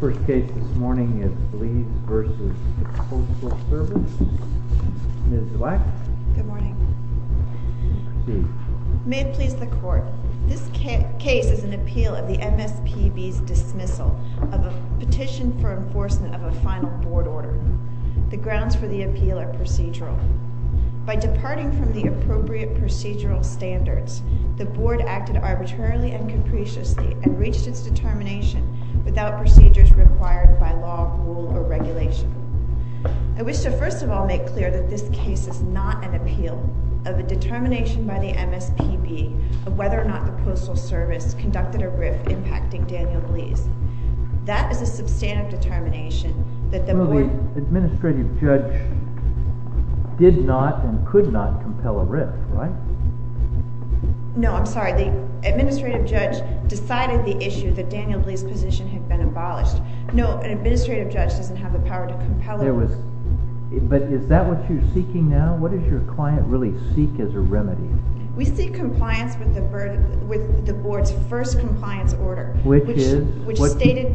First case this morning is Blees v. Coastal Service. Ms. Black. Good morning. May it please the court. This case is an appeal of the MSPB's dismissal of a petition for enforcement of a final board order. The grounds for the appeal are procedural. By departing from the appropriate procedural standards, the board acted arbitrarily and capriciously and reached its determination without procedures required by law, rule, or regulation. I wish to first of all make clear that this case is not an appeal of a determination by the MSPB of whether or not the Coastal Service conducted a RIF impacting Daniel Blees. That is a substantive determination that the board— Clearly, the administrative judge did not and could not compel a RIF, right? No, I'm sorry. The administrative judge decided the issue that Daniel Blees' position had been abolished. No, an administrative judge doesn't have the power to compel— But is that what you're seeking now? What does your client really seek as a remedy? We seek compliance with the board's first compliance order, which stated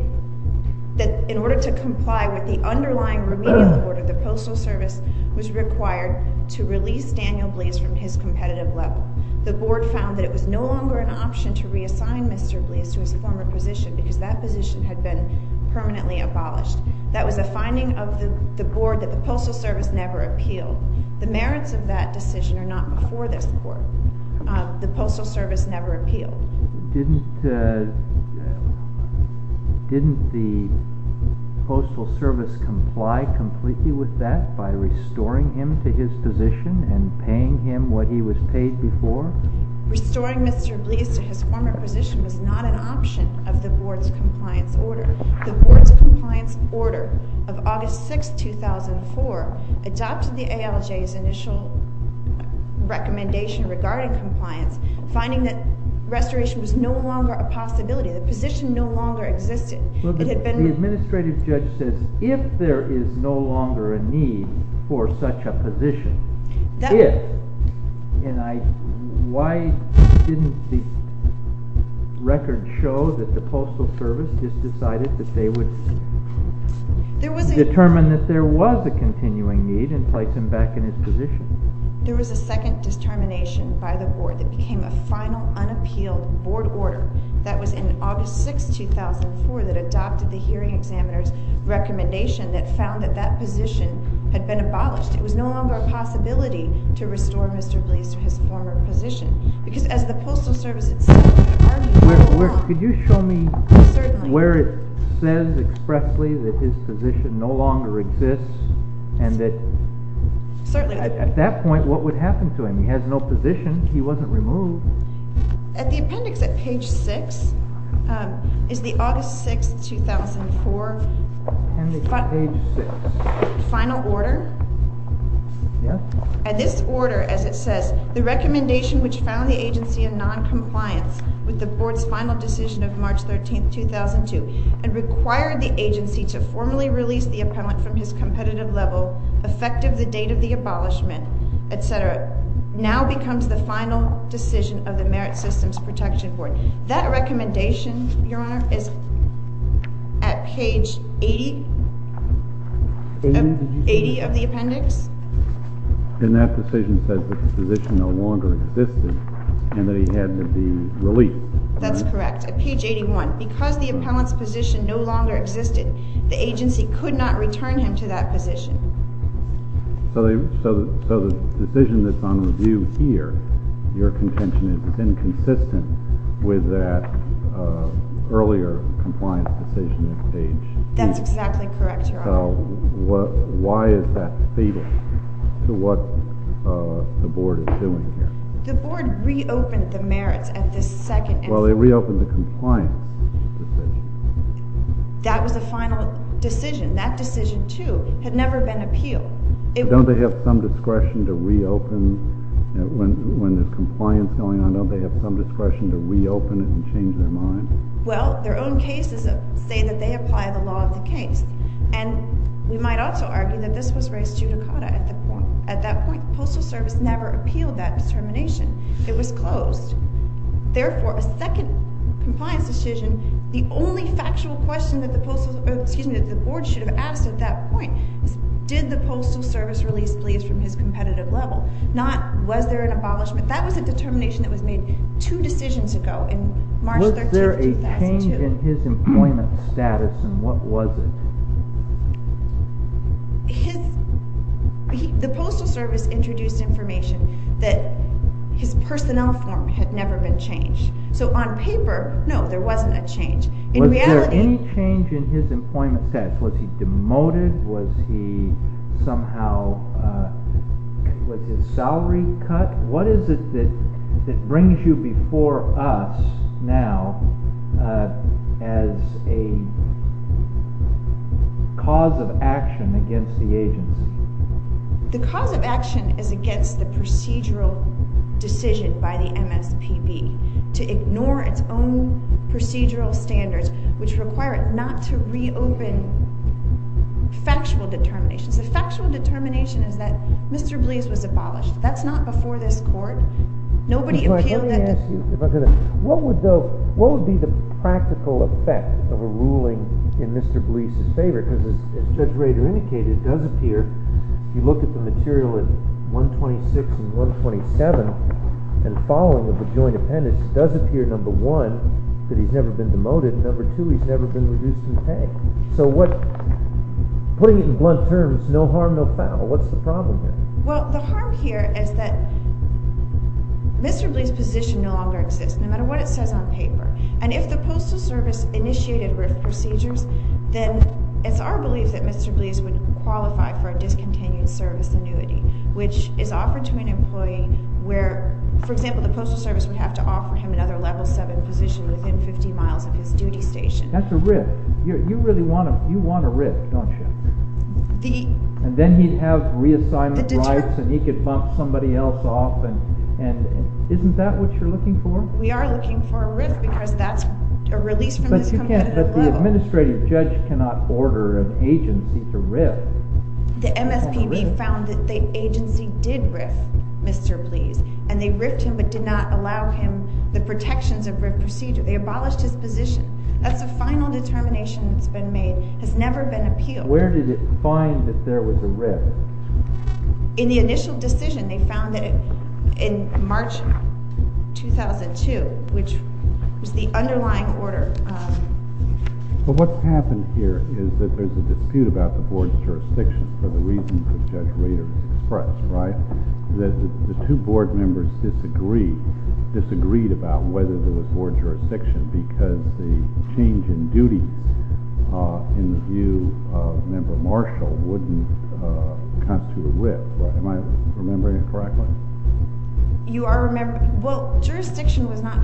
that in order to comply with the underlying remedial order, the Coastal Service was required to release Daniel Blees from his competitive level. The board found that it was no longer an option to reassign Mr. Blees to his former position because that position had been permanently abolished. That was a finding of the board that the Coastal Service never appealed. The merits of that decision are not before this court. The Coastal Service never appealed. Didn't the Coastal Service comply completely with that by restoring him to his position and paying him what he was paid before? Restoring Mr. Blees to his former position was not an option of the board's compliance order. The board's compliance order of August 6, 2004 adopted the ALJ's initial recommendation regarding compliance, finding that restoration was no longer a possibility. The position no longer existed. The administrative judge said, if there is no longer a need for such a position, why didn't the record show that the Coastal Service just decided that they would determine that there was a continuing need and place him back in his position? There was a second determination by the board that became a final, unappealed board order that was in August 6, 2004 that adopted the hearing examiner's recommendation that found that that position had been abolished. It was no longer a possibility to restore Mr. Blees to his former position. Could you show me where it says expressly that his position no longer exists and that at that point what would happen to him? He has no position. He wasn't removed. At the appendix at page 6 is the August 6, 2004 final order. At this order, as it says, the recommendation which found the agency in noncompliance with the board's final decision of March 13, 2002 and required the agency to formally release the appellant from his competitive level, effective the date of the abolishment, etc. now becomes the final decision of the Merit Systems Protection Board. That recommendation, Your Honor, is at page 80 of the appendix? And that decision says that the position no longer existed and that he had to be released. That's correct. At page 81. Because the appellant's position no longer existed, the agency could not return him to that position. So the decision that's on review here, your contention, is inconsistent with that earlier compliance decision at page… That's exactly correct, Your Honor. So why is that fatal to what the board is doing here? The board reopened the merits at this second… Well, they reopened the compliance decision. That was the final decision. That decision, too, had never been appealed. Don't they have some discretion to reopen when there's compliance going on? Don't they have some discretion to reopen it and change their mind? Well, their own cases say that they apply the law of the case. And we might also argue that this was raised judicata at that point. The Postal Service never appealed that determination. It was closed. Therefore, a second compliance decision, the only factual question that the board should have asked at that point is, did the Postal Service release Gleaves from his competitive level? Not, was there an abolishment? That was a determination that was made two decisions ago in March 13, 2002. Was there a change in his employment status, and what was it? The Postal Service introduced information that his personnel form had never been changed. So on paper, no, there wasn't a change. In reality… Was there any change in his employment status? Was he demoted? Was he somehow with his salary cut? What is it that brings you before us now as a cause of action against the agency? The cause of action is against the procedural decision by the MSPB to ignore its own procedural standards, which require it not to reopen factual determinations. The factual determination is that Mr. Gleaves was abolished. That's not before this court. Nobody appealed that determination. What would be the practical effect of a ruling in Mr. Gleaves' favor? Because as Judge Rader indicated, it does appear, if you look at the material at 126 and 127 and following of the joint appendix, it does appear, number one, that he's never been demoted, and number two, he's never been reduced in pay. So putting it in blunt terms, no harm, no foul. What's the problem here? Well, the harm here is that Mr. Gleaves' position no longer exists, no matter what it says on paper. And if the Postal Service initiated RIF procedures, then it's our belief that Mr. Gleaves would qualify for a discontinued service annuity, which is offered to an employee where, for example, the Postal Service would have to offer him another level 7 position within 50 miles of his duty station. That's a RIF. You really want a RIF, don't you? And then he'd have reassignment rights, and he could bump somebody else off, and isn't that what you're looking for? We are looking for a RIF because that's a release from this competitive level. But the administrative judge cannot order an agency to RIF. The MSPB found that the agency did RIF Mr. Gleaves, and they RIF'd him but did not allow him the protections of RIF procedure. They abolished his position. That's the final determination that's been made. It has never been appealed. Where did it find that there was a RIF? In the initial decision, they found it in March 2002, which was the underlying order. But what's happened here is that there's a dispute about the board's jurisdiction for the reasons that Judge Rader expressed, right? He says that the two board members disagreed about whether there was board jurisdiction because the change in duty in the view of Member Marshall wouldn't constitute a RIF. Am I remembering it correctly? Well, jurisdiction was not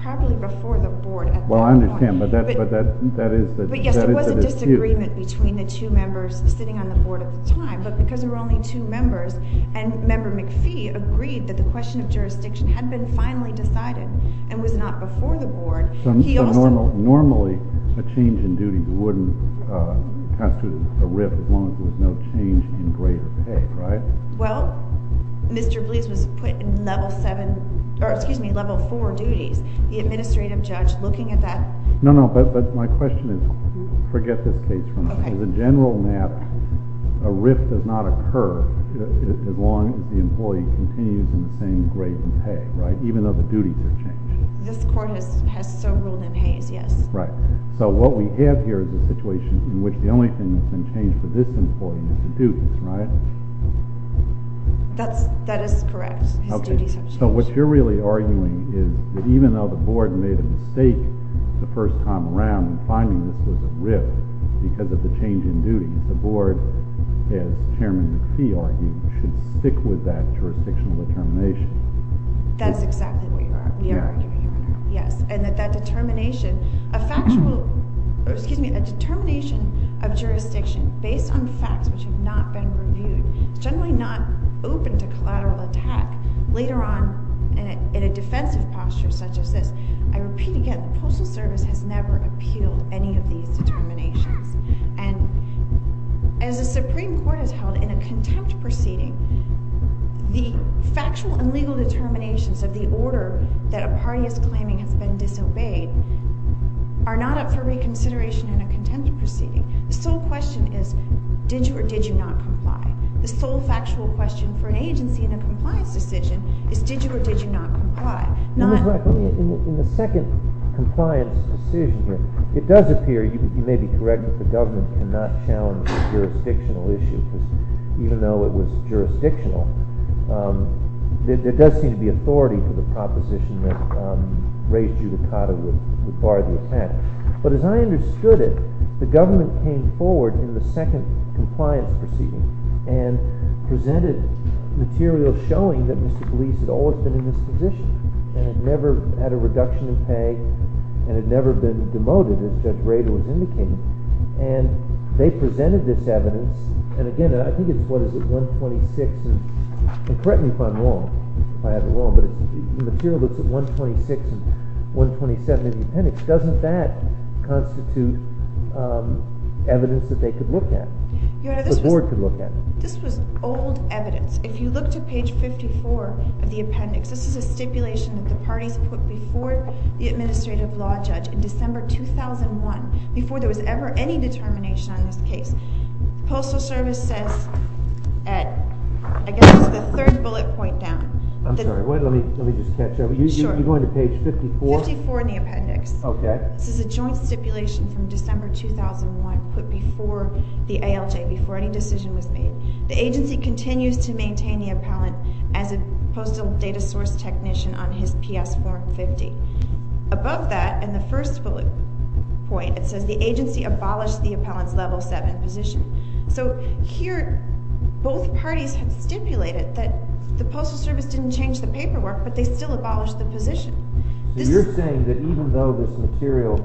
properly before the board at that point. Well, I understand, but that is the dispute. But yes, there was a disagreement between the two members sitting on the board at the time. But because there were only two members, and Member McPhee agreed that the question of jurisdiction had been finally decided and was not before the board, he also— So normally a change in duty wouldn't constitute a RIF as long as there was no change in grade of pay, right? Well, Mr. Gleaves was put in level seven—or excuse me, level four duties. The administrative judge looking at that— No, no, but my question is—forget this case for a moment. Okay. As a general matter, a RIF does not occur as long as the employee continues in the same grade of pay, right? Even though the duties are changed. This court has so ruled in haze, yes. Right. So what we have here is a situation in which the only thing that's been changed for this employee is the duties, right? That is correct. His duties have changed. So what you're really arguing is that even though the board made a mistake the first time around in finding this was a RIF because of the change in duties, the board, as Chairman McPhee argued, should stick with that jurisdictional determination. That's exactly what you're—we are arguing right now, yes. And that that determination—a factual—excuse me, a determination of jurisdiction based on facts which have not been reviewed is generally not open to collateral attack. Later on, in a defensive posture such as this, I repeat again, the Postal Service has never appealed any of these determinations. And as the Supreme Court has held in a contempt proceeding, the factual and legal determinations of the order that a party is claiming has been disobeyed are not up for reconsideration in a contempt proceeding. The sole question is did you or did you not comply? The sole factual question for an agency in a compliance decision is did you or did you not comply? In the second compliance decision here, it does appear—you may be correct that the government cannot challenge a jurisdictional issue because even though it was jurisdictional, there does seem to be authority for the proposition that raised judicata would bar the attack. But as I understood it, the government came forward in the second compliance proceeding and presented material showing that Mr. Glees had always been in this position and had never had a reduction in pay and had never been demoted, as Judge Rader was indicating. And they presented this evidence, and again, I think it's what is it, 126—and correct me if I'm wrong, if I have it wrong—but the material that's at 126 and 127 of the appendix, doesn't that constitute evidence that they could look at, the Board could look at? This was old evidence. If you look to page 54 of the appendix, this is a stipulation that the parties put before the administrative law judge in December 2001, before there was ever any determination on this case. Postal Service says—I guess it's the third bullet point down. I'm sorry, let me just catch up. You're going to page 54? 54 in the appendix. Okay. This is a joint stipulation from December 2001 put before the ALJ, before any decision was made. The agency continues to maintain the appellant as a postal data source technician on his PS 450. Above that, in the first bullet point, it says the agency abolished the appellant's level 7 position. So here, both parties have stipulated that the Postal Service didn't change the paperwork, but they still abolished the position. You're saying that even though this material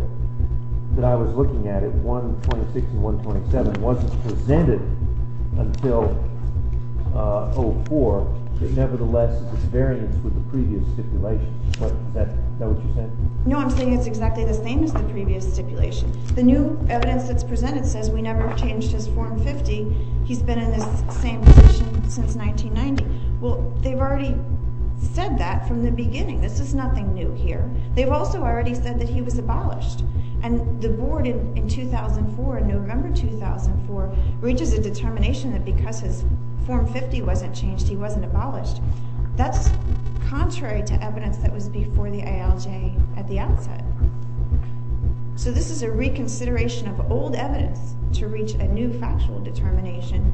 that I was looking at at 126 and 127 wasn't presented until 2004, that nevertheless, it's a variance with the previous stipulation. Is that what you're saying? No, I'm saying it's exactly the same as the previous stipulation. The new evidence that's presented says we never changed his 450. He's been in this same position since 1990. Well, they've already said that from the beginning. This is nothing new here. They've also already said that he was abolished. And the Board in 2004, in November 2004, reaches a determination that because his 450 wasn't changed, he wasn't abolished. That's contrary to evidence that was before the ALJ at the outset. So this is a reconsideration of old evidence to reach a new factual determination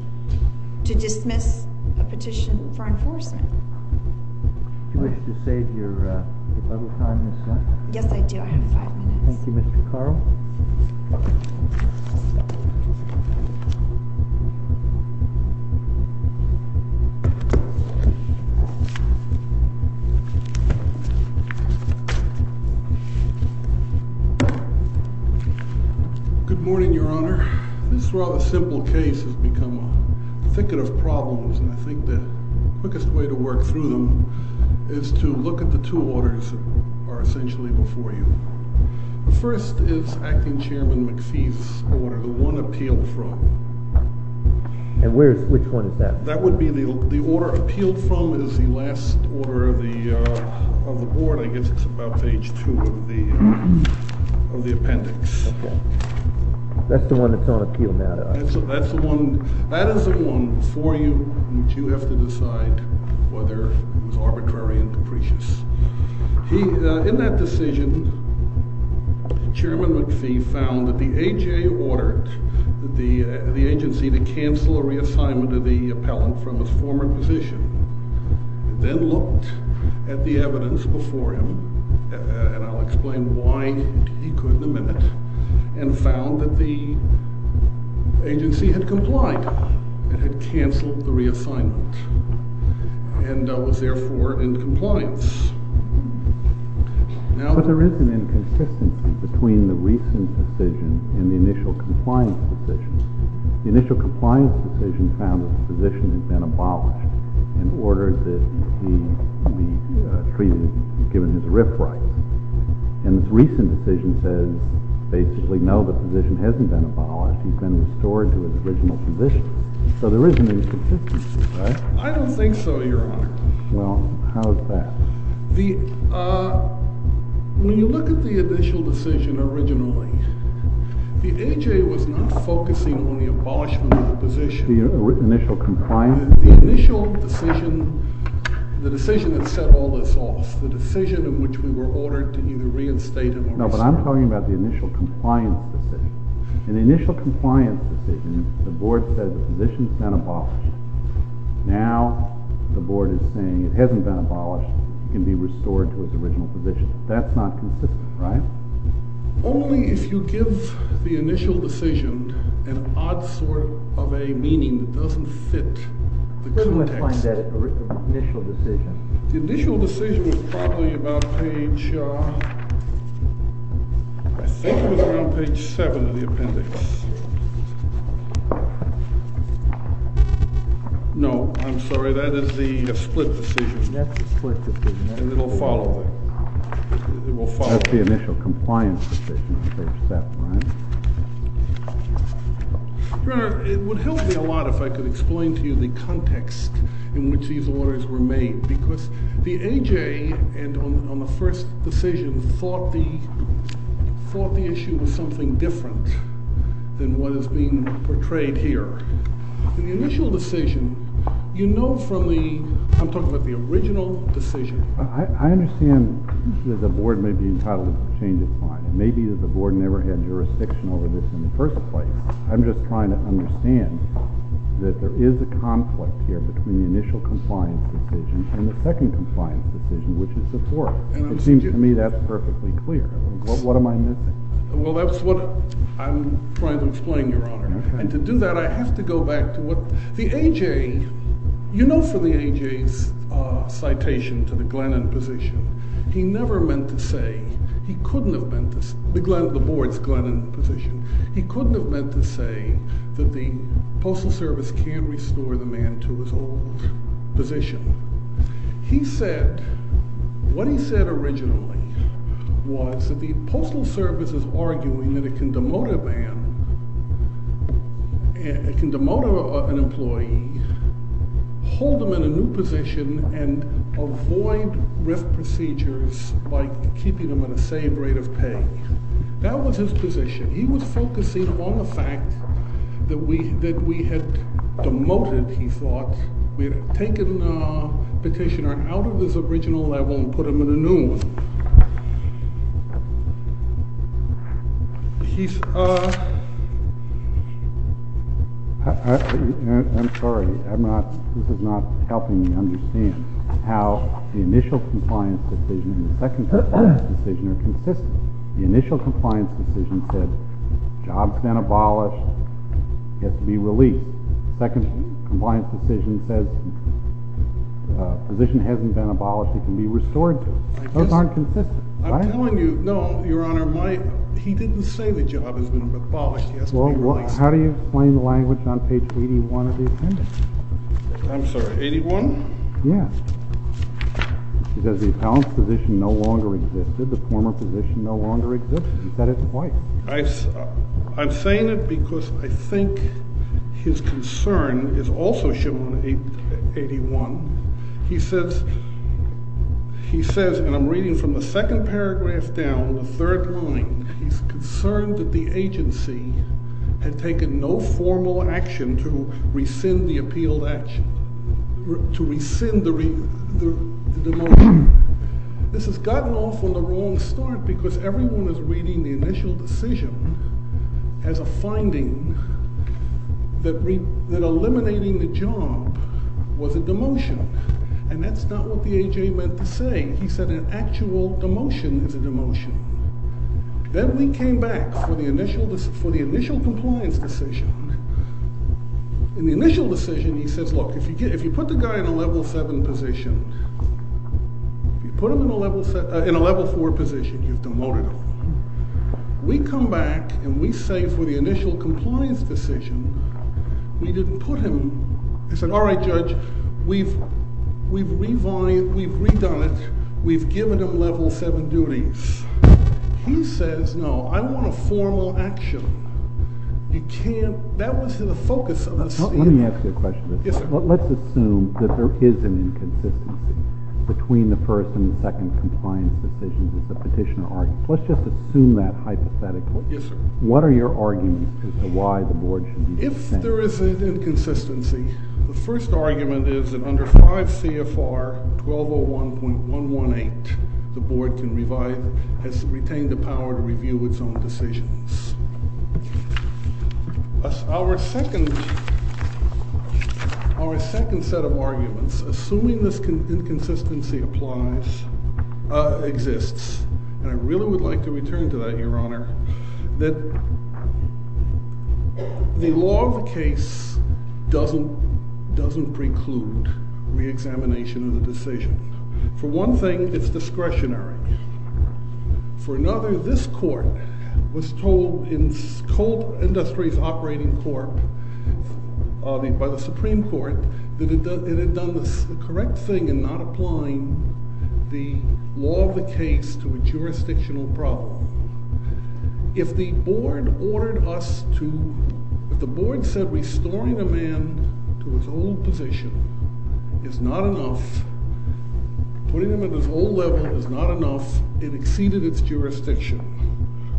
to dismiss a petition for enforcement. Do you wish to save your bubble time, Ms. Lenton? Yes, I do. I have five minutes. Thank you, Mr. Carl. Good morning, Your Honor. This rather simple case has become a thicket of problems, and I think the quickest way to work through them is to look at the two orders that are essentially before you. The first is Acting Chairman McPhee's order, the one appealed from. And which one is that? That would be the order appealed from is the last order of the Board. I guess it's about page 2 of the appendix. Okay. That's the one that's on appeal now, then? That's the one. That is the one before you which you have to decide whether it was arbitrary and capricious. In that decision, Chairman McPhee found that the AJ ordered the agency to cancel a reassignment of the appellant from his former position. He then looked at the evidence before him, and I'll explain why he could in a minute, and found that the agency had complied. It had canceled the reassignment and was, therefore, in compliance. But there is an inconsistency between the recent decision and the initial compliance decision. The initial compliance decision found that the physician had been abolished in order that he be given his RF rights. And the recent decision says, basically, no, the physician hasn't been abolished. He's been restored to his original position. So there is an inconsistency. I don't think so, Your Honor. Well, how is that? When you look at the initial decision originally, the AJ was not focusing on the abolishment of the position. The initial compliance? The initial decision, the decision that set all this off, the decision in which we were ordered to either reinstate him or restore him. No, but I'm talking about the initial compliance decision. In the initial compliance decision, the board said the physician's been abolished. Now the board is saying it hasn't been abolished. He can be restored to his original position. That's not consistent, right? Only if you give the initial decision an odd sort of a meaning that doesn't fit the context. Who would find that initial decision? The initial decision was probably about page, I think it was around page 7 of the appendix. No, I'm sorry, that is the split decision. That's the split decision. And it will follow. It will follow. That's the initial compliance decision on page 7, right? Your Honor, it would help me a lot if I could explain to you the context in which these orders were made. Because the AJ, on the first decision, thought the issue was something different than what is being portrayed here. In the initial decision, you know from the, I'm talking about the original decision. I understand that the board may be entitled to change its mind. It may be that the board never had jurisdiction over this in the first place. I'm just trying to understand that there is a conflict here between the initial compliance decision and the second compliance decision, which is the fourth. It seems to me that's perfectly clear. What am I missing? Well, that's what I'm trying to explain, Your Honor. And to do that, I have to go back to what the AJ, you know from the AJ's citation to the Glennon position, he never meant to say, he couldn't have meant this, the board's Glennon position, he couldn't have meant to say that the Postal Service can't restore the man to his old position. He said, what he said originally was that the Postal Service is arguing that it can demote a man, it can demote an employee, hold him in a new position, and avoid RIF procedures by keeping him at the same rate of pay. That was his position. He was focusing on the fact that we had demoted, he thought, we had taken the petitioner out of his original level and put him in a new one. I'm sorry, this is not helping me understand how the initial compliance decision and the second compliance decision are consistent. The initial compliance decision said, job's been abolished, he has to be released. The second compliance decision says, position hasn't been abolished, he can be restored to it. Those aren't consistent, right? I'm telling you, no, Your Honor, he didn't say the job has been abolished, he has to be released. Well, how do you explain the language on page 81 of the appendix? I'm sorry, 81? Yes. He says the appellant's position no longer existed, the former position no longer existed. He said it twice. I'm saying it because I think his concern is also shown on 81. He says, and I'm reading from the second paragraph down, the third line, he's concerned that the agency had taken no formal action to rescind the appealed action, to rescind the demotion. This has gotten off on the wrong start because everyone is reading the initial decision as a finding that eliminating the job was a demotion. And that's not what the A.J. meant to say. He said an actual demotion is a demotion. Then we came back for the initial compliance decision. In the initial decision, he says, look, if you put the guy in a level 7 position, if you put him in a level 4 position, you've demoted him. We come back and we say for the initial compliance decision, we didn't put him, I said, all right, Judge, we've redone it. We've given him level 7 duties. He says, no, I want a formal action. You can't, that wasn't the focus of this. Let me ask you a question. Yes, sir. Let's assume that there is an inconsistency between the first and second compliance decisions as the petitioner argues. Let's just assume that hypothetically. Yes, sir. What are your arguments as to why the board should be dissenting? If there is an inconsistency, the first argument is that under 5 CFR 1201.118, the board has retained the power to review its own decisions. Our second set of arguments, assuming this inconsistency applies, exists. And I really would like to return to that, Your Honor, that the law of the case doesn't preclude reexamination of the decision. For one thing, it's discretionary. For another, this court was told in Cold Industries Operating Corp. by the Supreme Court that it had done the correct thing in not applying the law of the case to a jurisdictional problem. If the board ordered us to—if the board said restoring a man to his old position is not enough, putting him at his old level is not enough, it exceeded its jurisdiction.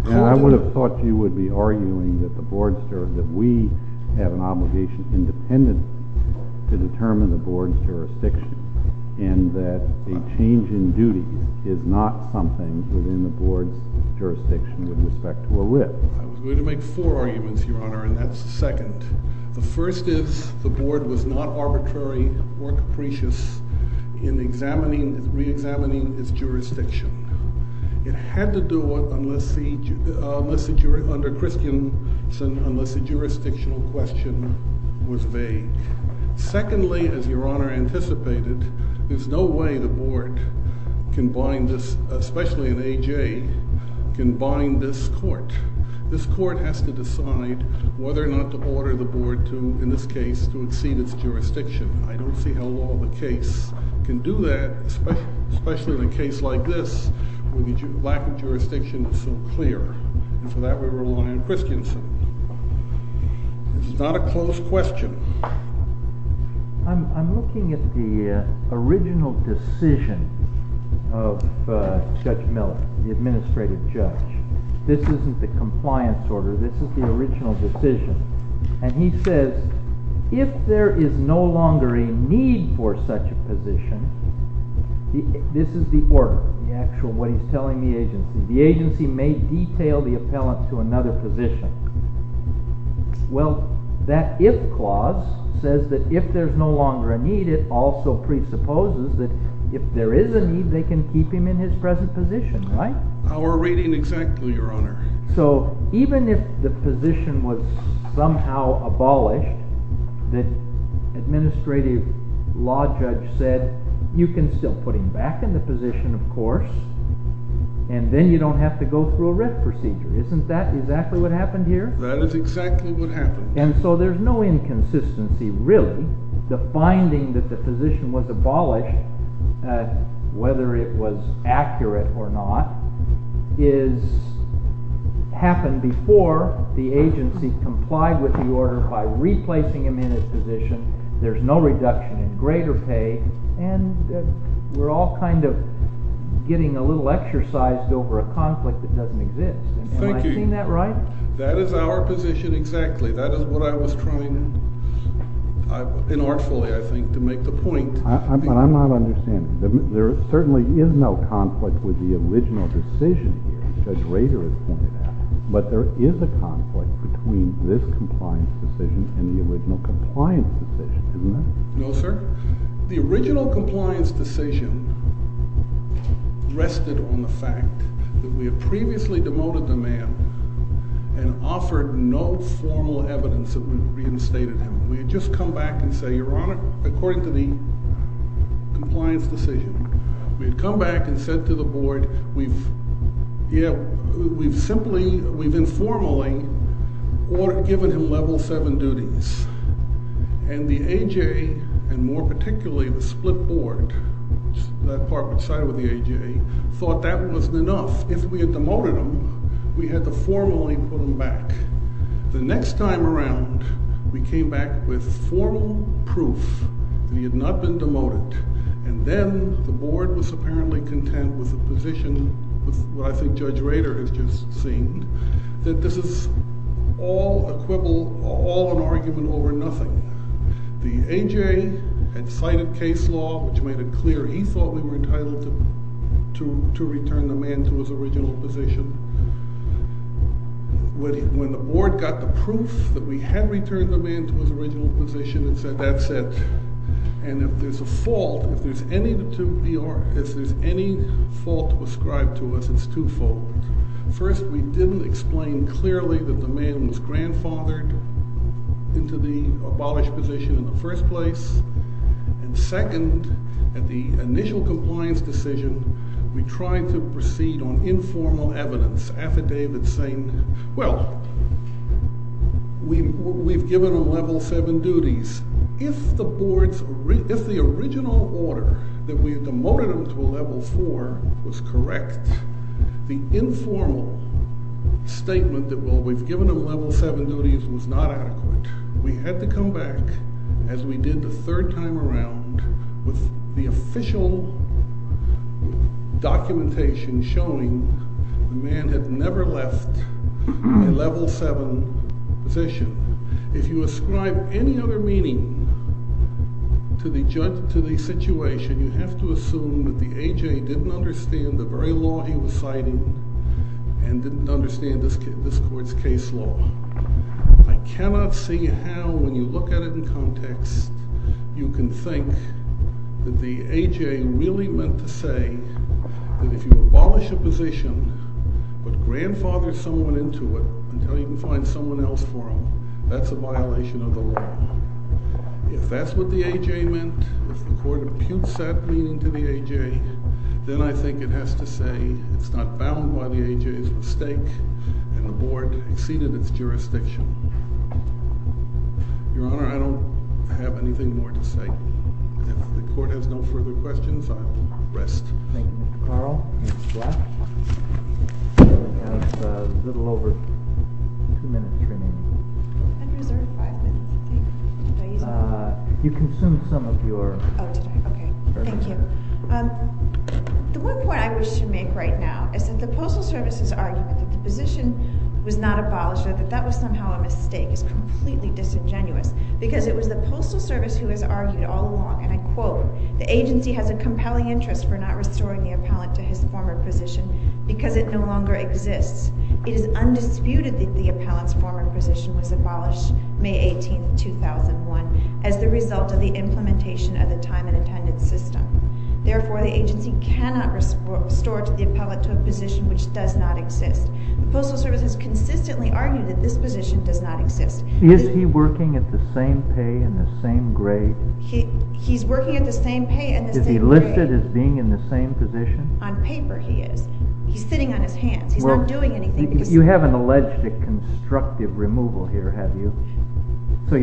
And I would have thought you would be arguing that the board's—that we have an obligation independently to determine the board's jurisdiction and that a change in duty is not something within the board's jurisdiction with respect to a wit. I was going to make four arguments, Your Honor, and that's the second. The first is the board was not arbitrary or capricious in examining—reexamining its jurisdiction. It had to do it unless the—under Christiansen, unless the jurisdictional question was vague. Secondly, as Your Honor anticipated, there's no way the board can bind this—especially in A.J.—can bind this court. This court has to decide whether or not to order the board to, in this case, to exceed its jurisdiction. I don't see how law of the case can do that, especially in a case like this where the lack of jurisdiction is so clear. And for that, we rely on Christiansen. This is not a closed question. I'm looking at the original decision of Judge Miller, the administrative judge. This isn't the compliance order. This is the original decision. And he says, if there is no longer a need for such a position, this is the order, the actual—what he's telling the agency. The agency may detail the appellant to another position. Well, that if clause says that if there's no longer a need, it also presupposes that if there is a need, they can keep him in his present position, right? Our reading exactly, Your Honor. So even if the position was somehow abolished, the administrative law judge said, you can still put him back in the position, of course, and then you don't have to go through a writ procedure. Isn't that exactly what happened here? And so there's no inconsistency really. The finding that the position was abolished, whether it was accurate or not, happened before the agency complied with the order by replacing him in his position. There's no reduction in greater pay, and we're all kind of getting a little exercised over a conflict that doesn't exist. Thank you. Am I saying that right? That is our position exactly. That is what I was trying, inartfully, I think, to make the point. I'm not understanding. There certainly is no conflict with the original decision here, as Judge Rader has pointed out. But there is a conflict between this compliance decision and the original compliance decision, isn't there? No, sir. The original compliance decision rested on the fact that we had previously demoted the man and offered no formal evidence that we reinstated him. We had just come back and said, Your Honor, according to the compliance decision, we had come back and said to the board, we've simply, we've informally given him Level 7 duties. And the A.J., and more particularly the split board, that part which sided with the A.J., thought that wasn't enough. If we had demoted him, we had to formally put him back. The next time around, we came back with formal proof that he had not been demoted. And then the board was apparently content with the position, which I think Judge Rader has just seen, that this is all an argument over nothing. The A.J. had cited case law, which made it clear he thought we were entitled to return the man to his original position. When the board got the proof that we had returned the man to his original position, it said, that's it. And if there's a fault, if there's any fault prescribed to us, it's twofold. First, we didn't explain clearly that the man was grandfathered into the abolished position in the first place. And second, at the initial compliance decision, we tried to proceed on informal evidence, affidavits saying, well, we've given him Level 7 duties. If the original order that we had demoted him to a Level 4 was correct, the informal statement that, well, we've given him Level 7 duties was not adequate. We had to come back, as we did the third time around, with the official documentation showing the man had never left a Level 7 position. If you ascribe any other meaning to the situation, you have to assume that the A.J. didn't understand the very law he was citing and didn't understand this court's case law. I cannot see how, when you look at it in context, you can think that the A.J. really meant to say that if you abolish a position, but grandfather someone into it until you can find someone else for him, that's a violation of the law. If that's what the A.J. meant, if the court imputes that meaning to the A.J., then I think it has to say it's not bound by the A.J.'s mistake and the board exceeded its jurisdiction. Your Honor, I don't have anything more to say. If the court has no further questions, I'll rest. Thank you, Mr. Carl. Ms. Black, you have a little over two minutes remaining. I'm reserved five minutes, I think. You consumed some of your time. Oh, did I? Okay. Thank you. The one point I wish to make right now is that the Postal Service has argued that the position was not abolished or that that was somehow a mistake is completely disingenuous because it was the Postal Service who has argued all along, and I quote, the agency has a compelling interest for not restoring the appellant to his former position because it no longer exists. It is undisputed that the appellant's former position was abolished May 18, 2001, as the result of the implementation of the time and attendance system. Therefore, the agency cannot restore the appellant to a position which does not exist. The Postal Service has consistently argued that this position does not exist. Is he working at the same pay and the same grade? He's working at the same pay and the same grade. Is he listed as being in the same position? On paper, he is. He's sitting on his hands. He's not doing anything. You haven't alleged a constructive removal here, have you? We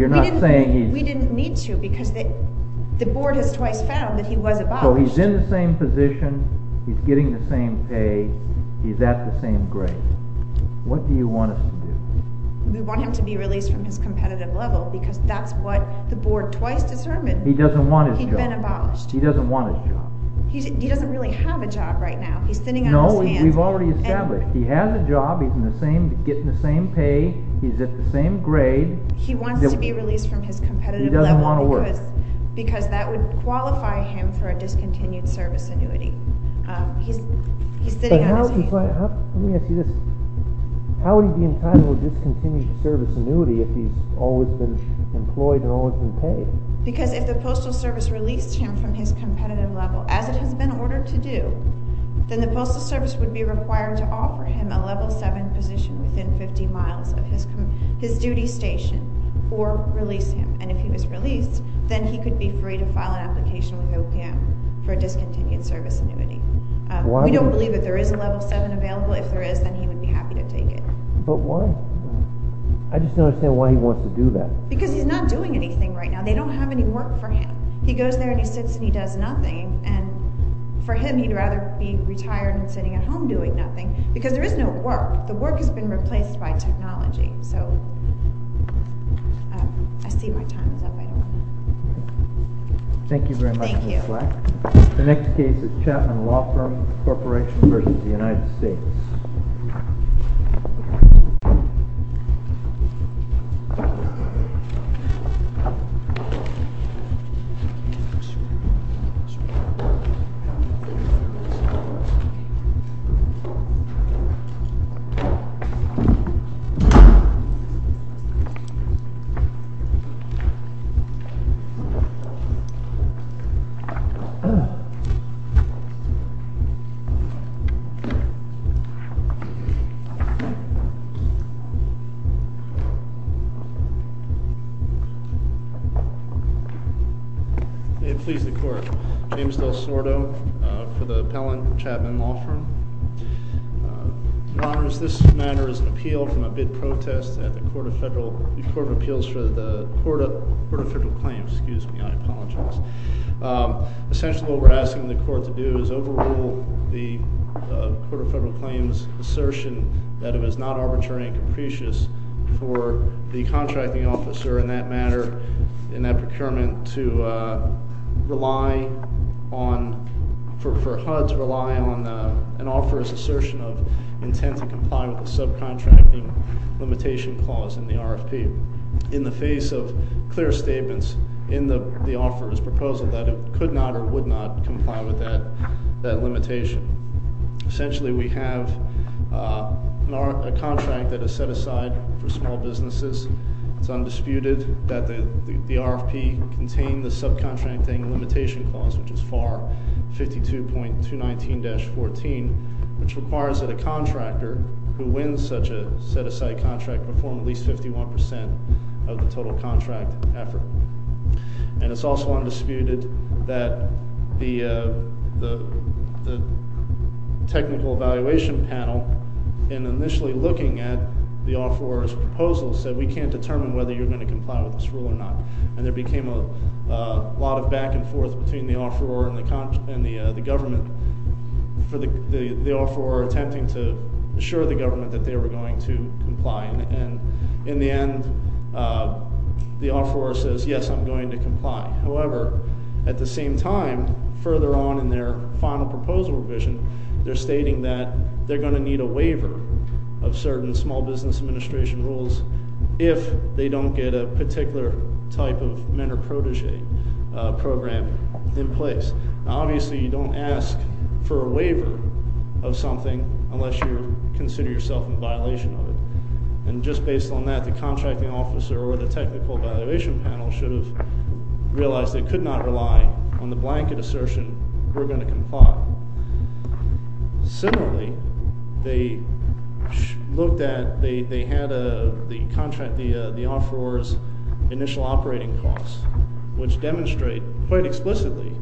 didn't need to because the board has twice found that he was abolished. So he's in the same position, he's getting the same pay, he's at the same grade. What do you want us to do? We want him to be released from his competitive level because that's what the board twice determined. He doesn't want his job. He's been abolished. He doesn't want his job. He doesn't really have a job right now. He's sitting on his hands. No, we've already established. He has a job, he's getting the same pay, he's at the same grade. He wants to be released from his competitive level because that would qualify him for a discontinued service annuity. He's sitting on his hands. Let me ask you this. How would he be entitled to discontinued service annuity if he's always been employed and always been paid? Because if the Postal Service released him from his competitive level, as it has been ordered to do, then the Postal Service would be required to offer him a level 7 position within 50 miles of his duty station or release him. And if he was released, then he could be free to file an application with OPM for a discontinued service annuity. We don't believe that there is a level 7 available. If there is, then he would be happy to take it. But why? I just don't understand why he wants to do that. Because he's not doing anything right now. They don't have any work for him. He goes there and he sits and he does nothing. And for him, he'd rather be retired and sitting at home doing nothing because there is no work. The work has been replaced by technology. So, I see my time is up. Thank you very much, Ms. Black. The next case is Chapman Law Firm Corporation v. The United States. May it please the Court. James DelSordo for the appellant, Chapman Law Firm. Your Honors, this matter is an appeal from a bid protest at the Court of Appeals for the Court of Federal Claims. Excuse me, I apologize. Essentially, what we're asking the Court to do is overrule the Court of Federal Claims' assertion that it was not arbitrary and capricious for the contracting officer in that matter, in that procurement, to rely on, for HUD to rely on, an offeror's assertion of intent to comply with the subcontracting limitation clause in the RFP. In the face of clear statements in the offeror's proposal that it could not or would not comply with that limitation. Essentially, we have a contract that is set aside for small businesses. It's undisputed that the RFP contained the subcontracting limitation clause, which is FAR 52.219-14, which requires that a contractor who wins such a set-aside contract perform at least 51% of the total contract effort. And it's also undisputed that the technical evaluation panel, in initially looking at the offeror's proposal, said, we can't determine whether you're going to comply with this rule or not. And there became a lot of back and forth between the offeror and the government, for the offeror attempting to assure the government that they were going to comply. And in the end, the offeror says, yes, I'm going to comply. However, at the same time, further on in their final proposal revision, they're stating that they're going to need a waiver of certain Small Business Administration rules if they don't get a particular type of mentor-protege program in place. Now, obviously, you don't ask for a waiver of something unless you consider yourself in violation of it. And just based on that, the contracting officer or the technical evaluation panel should have realized they could not rely on the blanket assertion, we're going to comply. Similarly, they looked at – they had the contract – the offeror's initial operating costs, which demonstrate quite explicitly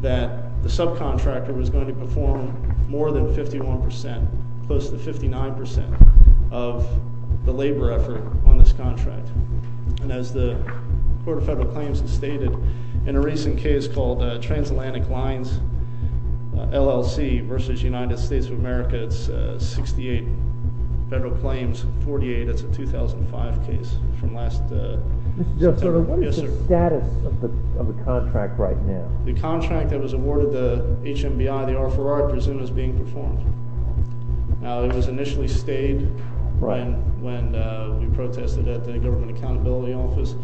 that the subcontractor was going to perform more than 51%, close to 59% of the labor effort on this contract. And as the Court of Federal Claims has stated, in a recent case called Transatlantic Lines LLC versus United States of America, it's 68 Federal Claims, 48 is a 2005 case from last September. What is the status of the contract right now? The contract that was awarded to HMBI, the offeror, I presume is being performed. Now, it was initially stayed when we protested at the Government Accountability Office.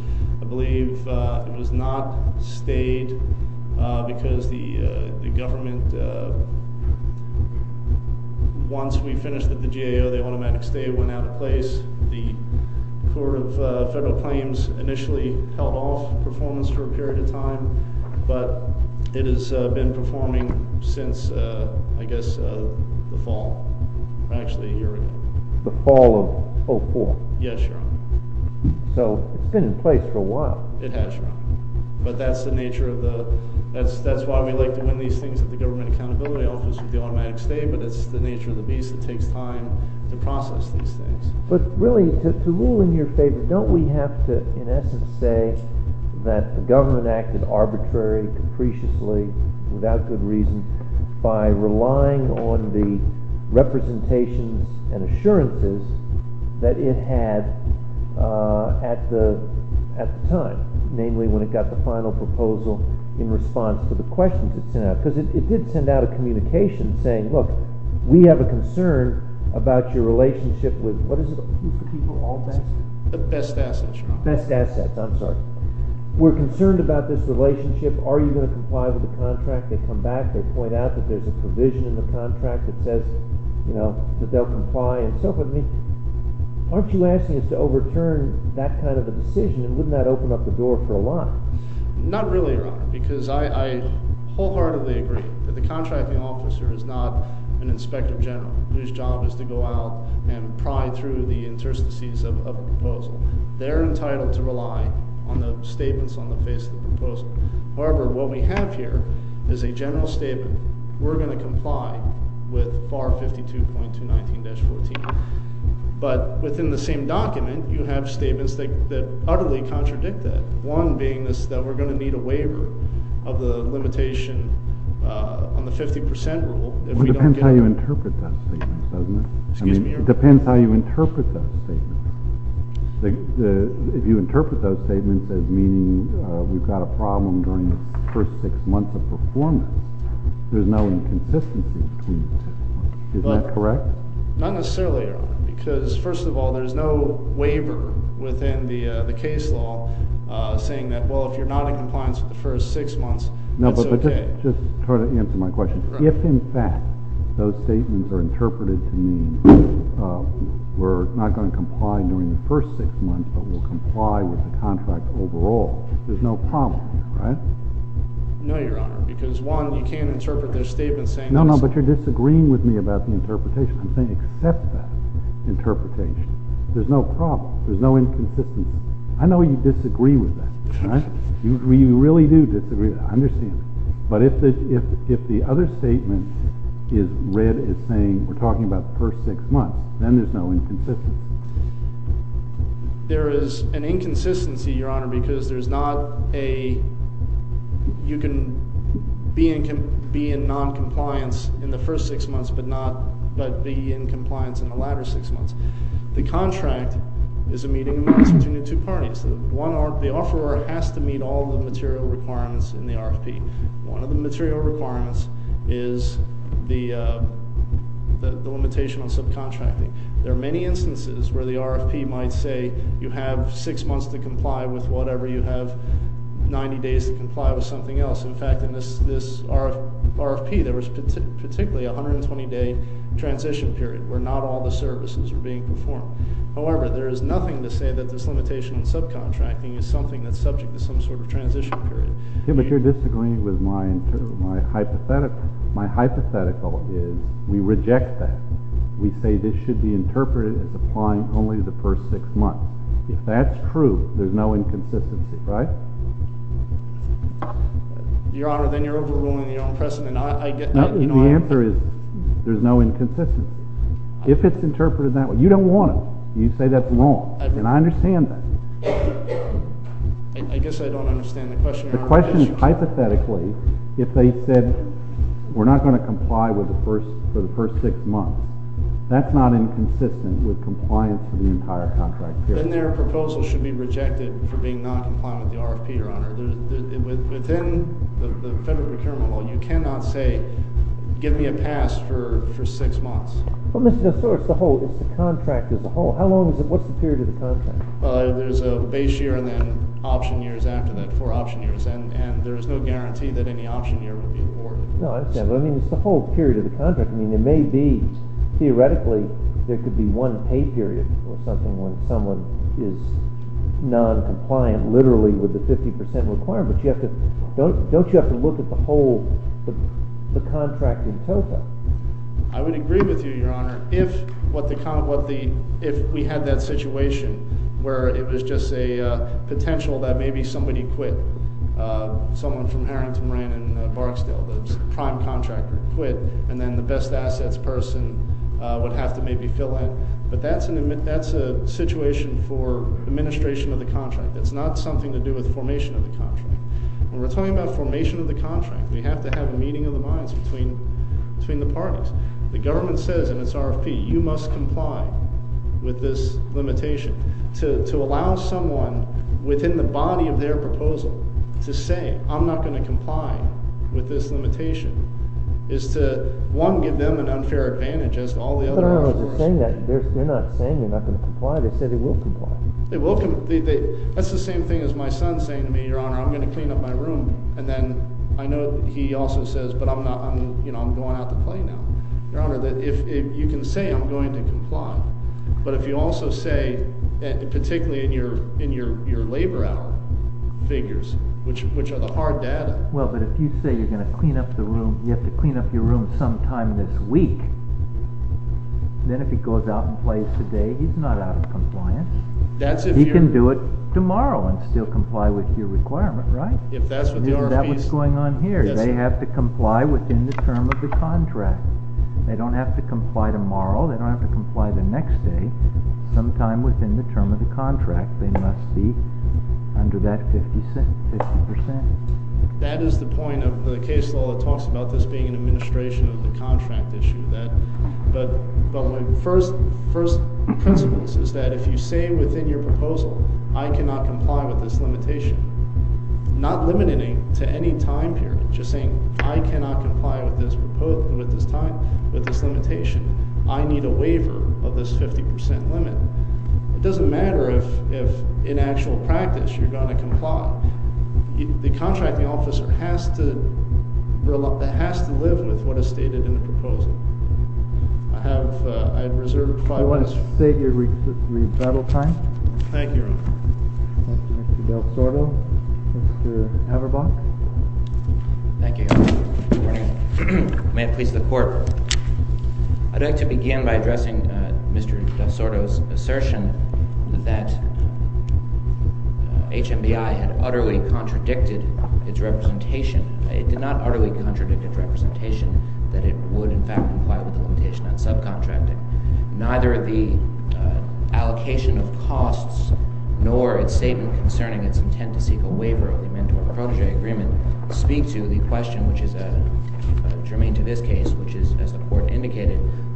I believe it was not stayed because the government – once we finished with the GAO, the automatic stay went out of place. The Court of Federal Claims initially held off performance for a period of time, but it has been performing since, I guess, the fall. Actually, a year ago. The fall of 2004? Yes, Your Honor. So it's been in place for a while. It has, Your Honor. But that's the nature of the – that's why we like to win these things at the Government Accountability Office with the automatic stay, but it's the nature of the beast. It takes time to process these things. But really, to rule in your favor, don't we have to, in essence, say that the government acted arbitrary, capriciously, without good reason, by relying on the representation and assurances that it had at the time, namely when it got the final proposal in response to the questions it sent out? Because it did send out a communication saying, look, we have a concern about your relationship with – what is it? The best assets, Your Honor. Best assets. I'm sorry. We're concerned about this relationship. Are you going to comply with the contract? They come back. They point out that there's a provision in the contract that says that they'll comply and so forth. I mean, aren't you asking us to overturn that kind of a decision? And wouldn't that open up the door for a lot? Not really, Your Honor, because I wholeheartedly agree that the contracting officer is not an inspector general whose job is to go out and pry through the interstices of a proposal. They're entitled to rely on the statements on the face of the proposal. However, what we have here is a general statement. We're going to comply with FAR 52.219-14. But within the same document, you have statements that utterly contradict that, one being that we're going to need a waiver of the limitation on the 50 percent rule. It depends how you interpret those statements, doesn't it? Excuse me, Your Honor. It depends how you interpret those statements. If you interpret those statements as meaning we've got a problem during the first six months of performance, there's no inconsistency between the two. Isn't that correct? Not necessarily, Your Honor, because, first of all, there's no waiver within the case law saying that, well, if you're not in compliance for the first six months, it's okay. No, but just try to answer my question. If, in fact, those statements are interpreted to mean we're not going to comply during the first six months but we'll comply with the contract overall, there's no problem here, right? No, Your Honor, because, one, you can't interpret those statements saying this. No, no, but you're disagreeing with me about the interpretation. I'm saying accept that interpretation. There's no problem. There's no inconsistency. I know you disagree with that. You really do disagree with that. I understand that. But if the other statement is read as saying we're talking about the first six months, then there's no inconsistency. There is an inconsistency, Your Honor, because there's not a you can be in noncompliance in the first six months but be in compliance in the latter six months. The contract is a meeting of two parties. The offeror has to meet all the material requirements in the RFP. One of the material requirements is the limitation on subcontracting. There are many instances where the RFP might say you have six months to comply with whatever, you have 90 days to comply with something else. In fact, in this RFP, there was particularly a 120-day transition period where not all the services were being performed. However, there is nothing to say that this limitation on subcontracting is something that's subject to some sort of transition period. But you're disagreeing with my hypothetical. My hypothetical is we reject that. We say this should be interpreted as applying only to the first six months. If that's true, there's no inconsistency, right? Your Honor, then you're overruling your own precedent. The answer is there's no inconsistency. If it's interpreted that way. You don't want it. You say that's wrong, and I understand that. I guess I don't understand the question. The question is hypothetically if they said we're not going to comply for the first six months. That's not inconsistent with compliance for the entire contract period. Within the Federal Procurement Law, you cannot say give me a pass for six months. Well, Mr. DeSouza, it's the contract as a whole. How long is it? What's the period of the contract? There's a base year and then option years after that, four option years. And there's no guarantee that any option year would be afforded. No, I understand. But, I mean, it's the whole period of the contract. I mean, there may be, theoretically, there could be one pay period or something when someone is noncompliant literally with the 50% requirement. Don't you have to look at the whole contract in total? I would agree with you, Your Honor. If we had that situation where it was just a potential that maybe somebody quit, someone from Harrington, Marin, and Barksdale, the prime contractor quit, and then the best assets person would have to maybe fill in. But that's a situation for administration of the contract. That's not something to do with formation of the contract. When we're talking about formation of the contract, we have to have a meeting of the minds between the parties. The government says in its RFP, you must comply with this limitation. To allow someone within the body of their proposal to say, I'm not going to comply with this limitation, is to, one, give them an unfair advantage as to all the others. They're not saying they're not going to comply. They said they will comply. That's the same thing as my son saying to me, Your Honor, I'm going to clean up my room, and then I know he also says, but I'm going out to play now. Your Honor, you can say I'm going to comply, but if you also say, particularly in your labor hour figures, which are the hard data. Well, but if you say you're going to clean up the room, sometime this week, then if he goes out and plays today, he's not out of compliance. He can do it tomorrow and still comply with your requirement, right? That's what's going on here. They have to comply within the term of the contract. They don't have to comply tomorrow. They don't have to comply the next day, sometime within the term of the contract. They must be under that 50%. That is the point of the case law that talks about this being an administration of the contract issue. But my first principles is that if you say within your proposal, I cannot comply with this limitation, not limiting to any time period, just saying I cannot comply with this time, with this limitation. I need a waiver of this 50% limit. It doesn't matter if in actual practice you're going to comply. The contracting officer has to live with what is stated in the proposal. I have reserved five minutes. I want to state your rebuttal time. Thank you, Your Honor. Mr. Del Sordo, Mr. Haberbach. Thank you, Your Honor. Good morning. May it please the Court, I'd like to begin by addressing Mr. Del Sordo's assertion that HMBI had utterly contradicted its representation. It did not utterly contradict its representation that it would, in fact, comply with the limitation on subcontracting. Neither the allocation of costs nor its statement concerning its intent to seek a waiver of the Amendment to a Protégé Agreement speak to the question, which is germane to this case,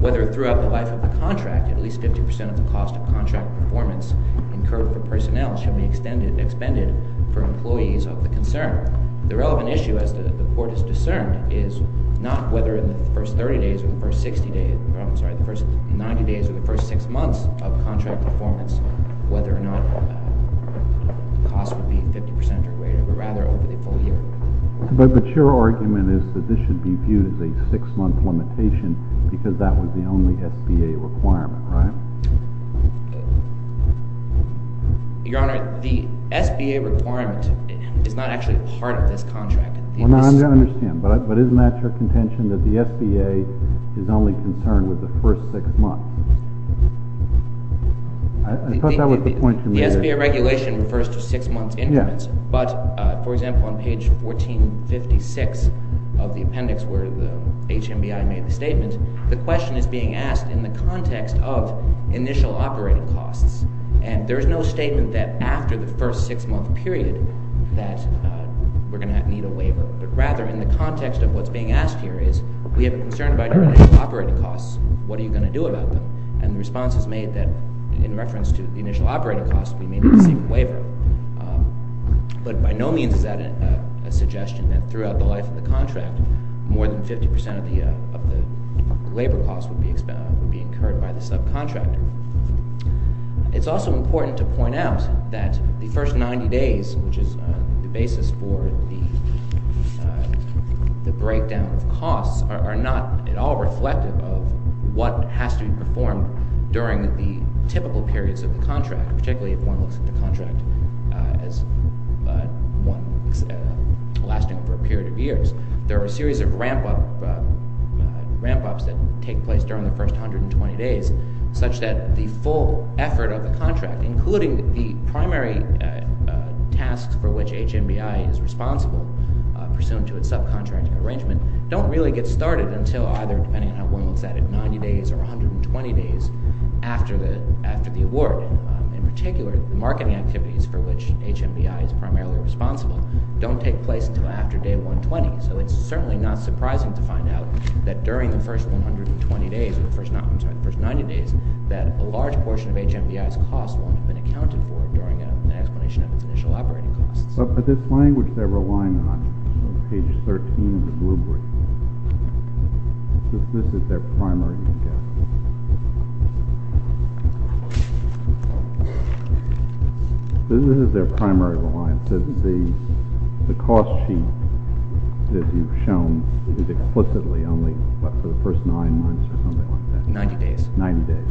whether throughout the life of the contract at least 50% of the cost of contract performance incurred for personnel should be expended for employees of the concern. The relevant issue, as the Court has discerned, is not whether in the first 30 days or the first 60 days, I'm sorry, the first 90 days or the first six months of contract performance, whether or not the cost would be 50% or greater, but rather over the full year. But your argument is that this should be viewed as a six-month limitation because that was the only SBA requirement, right? Your Honor, the SBA requirement is not actually part of this contract. I understand, but isn't that your contention that the SBA is only concerned with the first six months? I thought that was the point you were making. The SBA regulation refers to six-month increments, but, for example, on page 1456 of the appendix where the HMBI made the statement, the question is being asked in the context of initial operating costs. And there is no statement that after the first six-month period that we're going to need a waiver, but rather in the context of what's being asked here is, we have a concern about your initial operating costs. What are you going to do about them? And the response is made that in reference to the initial operating costs, we may not receive a waiver. But by no means is that a suggestion, that throughout the life of the contract, more than 50% of the labor costs would be incurred by the subcontractor. It's also important to point out that the first 90 days, which is the basis for the breakdown of costs, are not at all reflective of what has to be performed during the typical periods of the contract, particularly if one looks at the contract as lasting for a period of years. There are a series of ramp-ups that take place during the first 120 days, such that the full effort of the contract, including the primary tasks for which HMBI is responsible, pursuant to its subcontracting arrangement, don't really get started until either, depending on how one looks at it, 90 days or 120 days after the award. In particular, the marketing activities for which HMBI is primarily responsible don't take place until after day 120. So it's certainly not surprising to find out that during the first 90 days, that a large portion of HMBI's costs won't have been accounted for during an explanation of its initial operating costs. But this language they're relying on, on page 13 of the blue brief, this is their primary reliance. This is their primary reliance. The cost sheet that you've shown is explicitly only for the first nine months or something like that. 90 days. 90 days.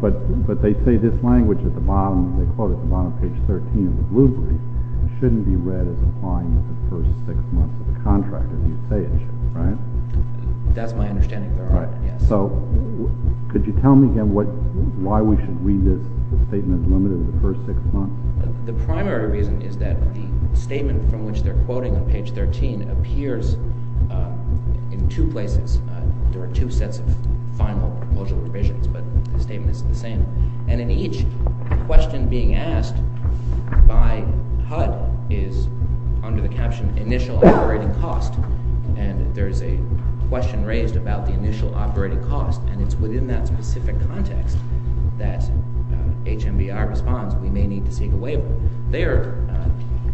But they say this language at the bottom, they quote it at the bottom of page 13 of the blue brief, shouldn't be read as applying to the first six months of the contract, as you say it should, right? That's my understanding, Your Honor. So could you tell me again why we should read this statement as limited to the first six months? The primary reason is that the statement from which they're quoting on page 13 appears in two places. There are two sets of final proposal divisions, but the statement is the same. And in each question being asked, by HUD, is under the caption initial operating cost. And there's a question raised about the initial operating cost, and it's within that specific context that HMBR responds we may need to seek a waiver.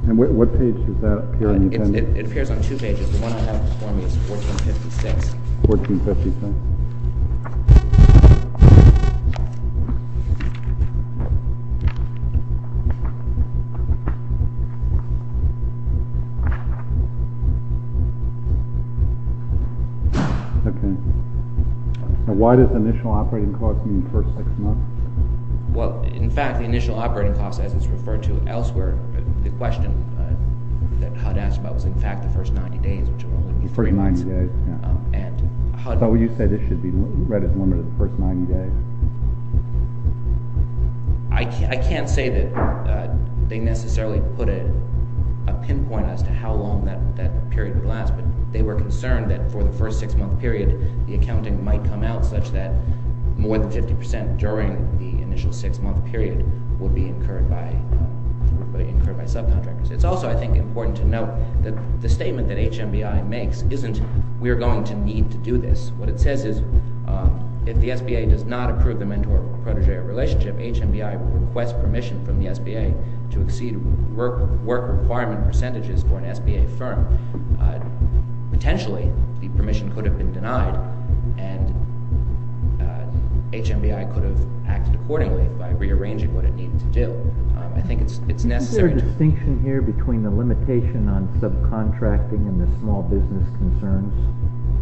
And what page does that appear in? It appears on two pages. The one I have before me is 1456. 1456. Okay. Why does initial operating cost mean first six months? Well, in fact, the initial operating cost, as it's referred to elsewhere, the question that HUD asked about was, in fact, the first 90 days, which would only be three months. The first 90 days, yeah. So you say this should be read as limited to the first 90 days. I can't say that they necessarily put a pinpoint as to how long that period would last, but they were concerned that for the first six-month period, the accounting might come out such that more than 50% during the initial six-month period would be incurred by subcontractors. It's also, I think, important to note that the statement that HMBI makes isn't we're going to need to do this. What it says is if the SBA does not approve the mentor-protege relationship, HMBI will request permission from the SBA to exceed work requirement percentages for an SBA firm. Potentially, the permission could have been denied, and HMBI could have acted accordingly by rearranging what it needed to do. I think it's necessary. Is there a distinction here between the limitation on subcontracting and the small business concerns?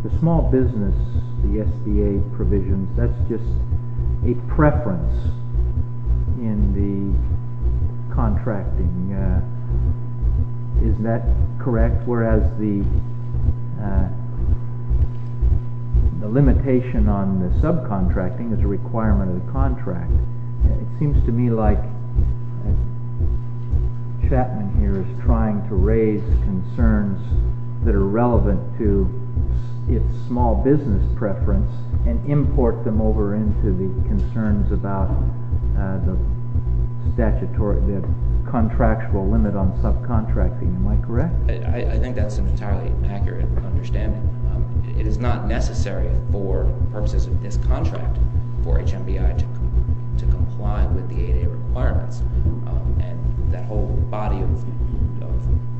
The small business, the SBA provision, that's just a preference in the contracting. Isn't that correct? Whereas the limitation on the subcontracting is a requirement of the contract. It seems to me like Chapman here is trying to raise concerns that are relevant to its small business preference and import them over into the concerns about the contractual limit on subcontracting. Am I correct? I think that's an entirely accurate understanding. It is not necessary for purposes of this contract for HMBI to comply with the 8A requirements and that whole body of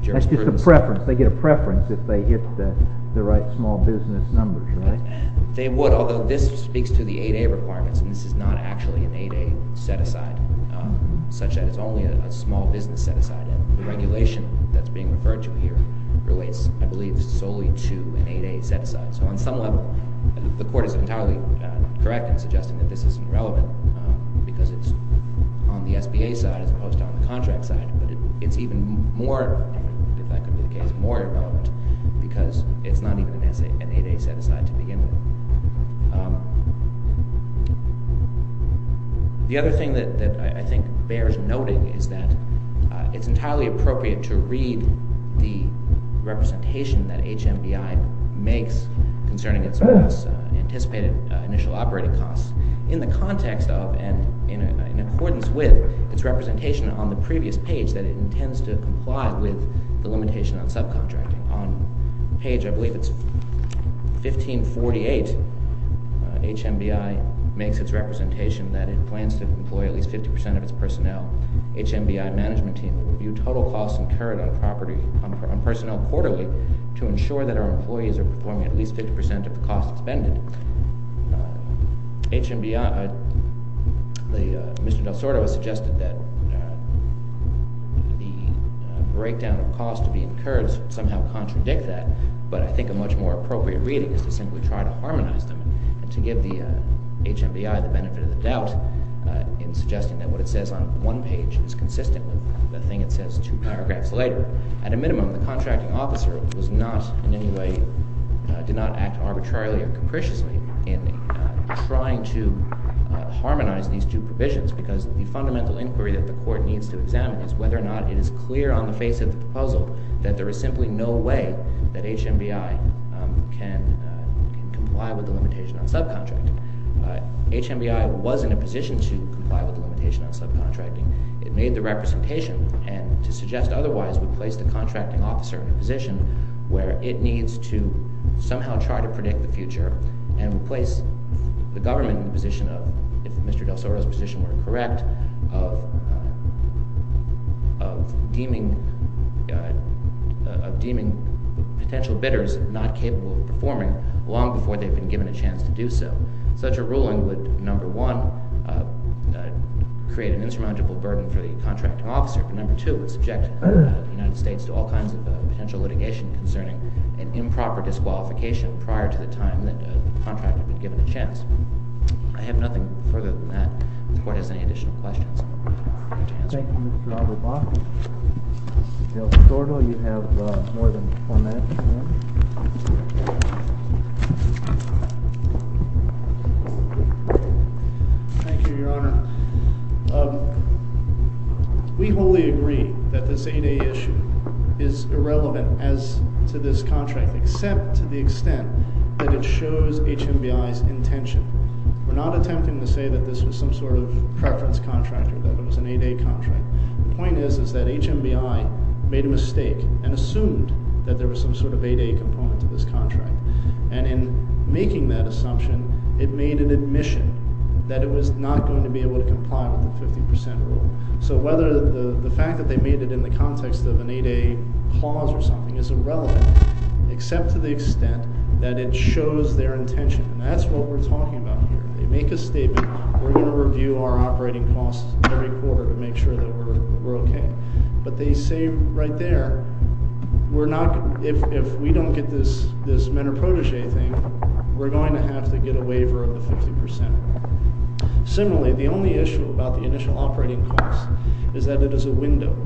jurisprudence. It's just a preference. They get a preference if they hit the right small business numbers, right? They would, although this speaks to the 8A requirements. And this is not actually an 8A set-aside, such that it's only a small business set-aside. And the regulation that's being referred to here relates, I believe, solely to an 8A set-aside. So on some level, the court is entirely correct in suggesting that this is irrelevant, because it's on the SBA side as opposed to on the contract side. But it's even more, if that could be the case, more irrelevant, because it's not even an 8A set-aside to begin with. The other thing that I think bears noting is that it's entirely appropriate to read the representation that HMBI makes concerning its anticipated initial operating costs in the context of and in accordance with its representation on the previous page that it intends to comply with the limitation on subcontracting. On page, I believe it's 1548, HMBI makes its representation that it plans to employ at least 50% of its personnel. HMBI management team will review total costs incurred on personnel quarterly to ensure that our employees are performing at least 50% of the cost expended. HMBI, Mr. Del Sordo has suggested that the breakdown of costs to be incurred somehow contradict that. But I think a much more appropriate reading is to simply try to harmonize them and to give the HMBI the benefit of the doubt in suggesting that what it says on one page is consistent with the thing it says two paragraphs later. At a minimum, the contracting officer in any way did not act arbitrarily or capriciously in trying to harmonize these two provisions because the fundamental inquiry that the court needs to examine is whether or not it is clear on the face of the proposal that there is simply no way that HMBI can comply with the limitation on subcontracting. HMBI was in a position to comply with the limitation on subcontracting. It made the representation and to suggest otherwise would place the contracting officer in a position where it needs to somehow try to predict the future and place the government in a position of, if Mr. Del Sordo's position were correct, of deeming potential bidders not capable of performing long before they've been given a chance to do so. Such a ruling would, number one, create an insurmountable burden for the contracting officer and, number two, would subject the United States to all kinds of potential litigation concerning an improper disqualification prior to the time that the contractor had been given a chance. I have nothing further than that if the court has any additional questions. Thank you, Mr. Alibaba. Mr. Del Sordo, you have more than four minutes. Thank you, Your Honor. Now, we wholly agree that this 8A issue is irrelevant as to this contract, except to the extent that it shows HMBI's intention. We're not attempting to say that this was some sort of preference contract or that it was an 8A contract. The point is that HMBI made a mistake and assumed that there was some sort of 8A component to this contract. And in making that assumption, it made an admission that it was not going to be able to comply with the 50% rule. So whether the fact that they made it in the context of an 8A clause or something is irrelevant, except to the extent that it shows their intention. And that's what we're talking about here. They make a statement, we're going to review our operating costs every quarter to make sure that we're okay. But they say right there, if we don't get this men are protege thing, we're going to have to get a waiver of the 50%. Similarly, the only issue about the initial operating costs is that it is a window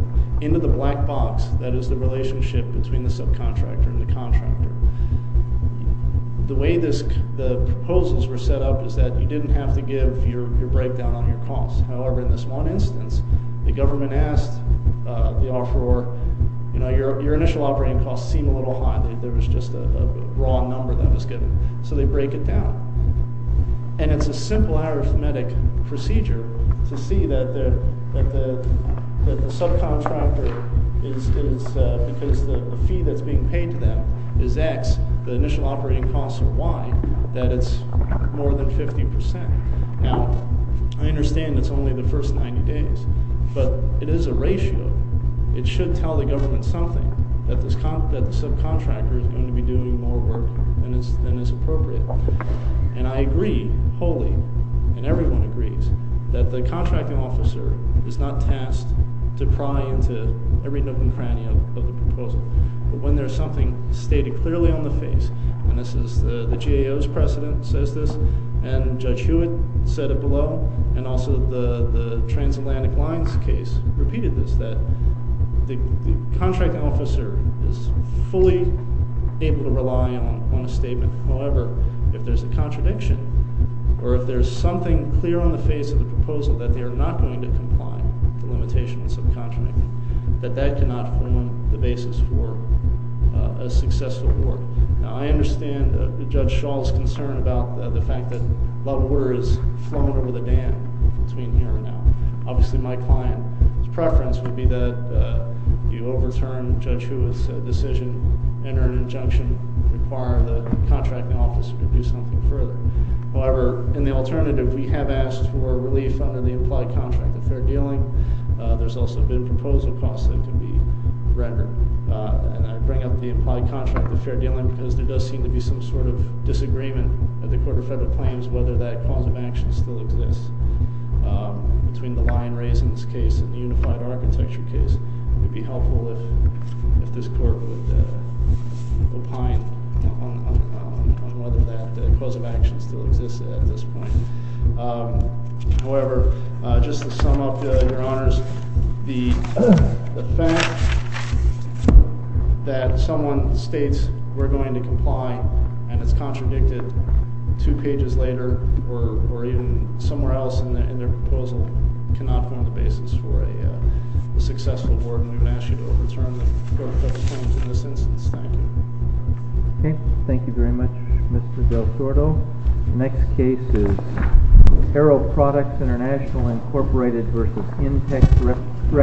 into the black box that is the relationship between the subcontractor and the contractor. The way the proposals were set up is that you didn't have to give your breakdown on your costs. However, in this one instance, the government asked the offeror, you know, your initial operating costs seem a little high. There was just a raw number that was given. So they break it down. And it's a simple arithmetic procedure to see that the subcontractor is, because the fee that's being paid to them is X, the initial operating costs are Y, that it's more than 50%. Now, I understand it's only the first 90 days, but it is a ratio. It should tell the government something, that the subcontractor is going to be doing more work than is appropriate. And I agree wholly, and everyone agrees, that the contracting officer is not tasked to pry into every nook and cranny of the proposal. But when there's something stated clearly on the face, and this is the GAO's precedent says this, and Judge Hewitt said it below, and also the Transatlantic Lines case repeated this, that the contracting officer is fully able to rely on a statement. However, if there's a contradiction, or if there's something clear on the face of the proposal that they are not going to comply with the limitations of the subcontractor, that that cannot form the basis for a successful work. Now, I understand Judge Schall's concern about the fact that a lot of water is flowing over the dam between here and now. Obviously, my client's preference would be that you overturn Judge Hewitt's decision, enter an injunction, require the contracting officer to do something further. However, in the alternative, we have asked for relief under the implied contract of fair dealing. There's also been proposal costs that can be rendered. And I bring up the implied contract of fair dealing because there does seem to be some sort of disagreement at the Court of Federal Claims as to whether that cause of action still exists. Between the lion raisings case and the unified architecture case, it would be helpful if this Court would opine on whether that cause of action still exists at this point. However, just to sum up, Your Honors, the fact that someone states we're going to comply and it's contradicted two pages later or even somewhere else in their proposal cannot form the basis for a successful board. And we would ask you to overturn the Court of Federal Claims in this instance. Thank you. Okay. Thank you very much, Mr. Del Sordo. The next case is Harrow Products International, Incorporated v. Intex Recreation.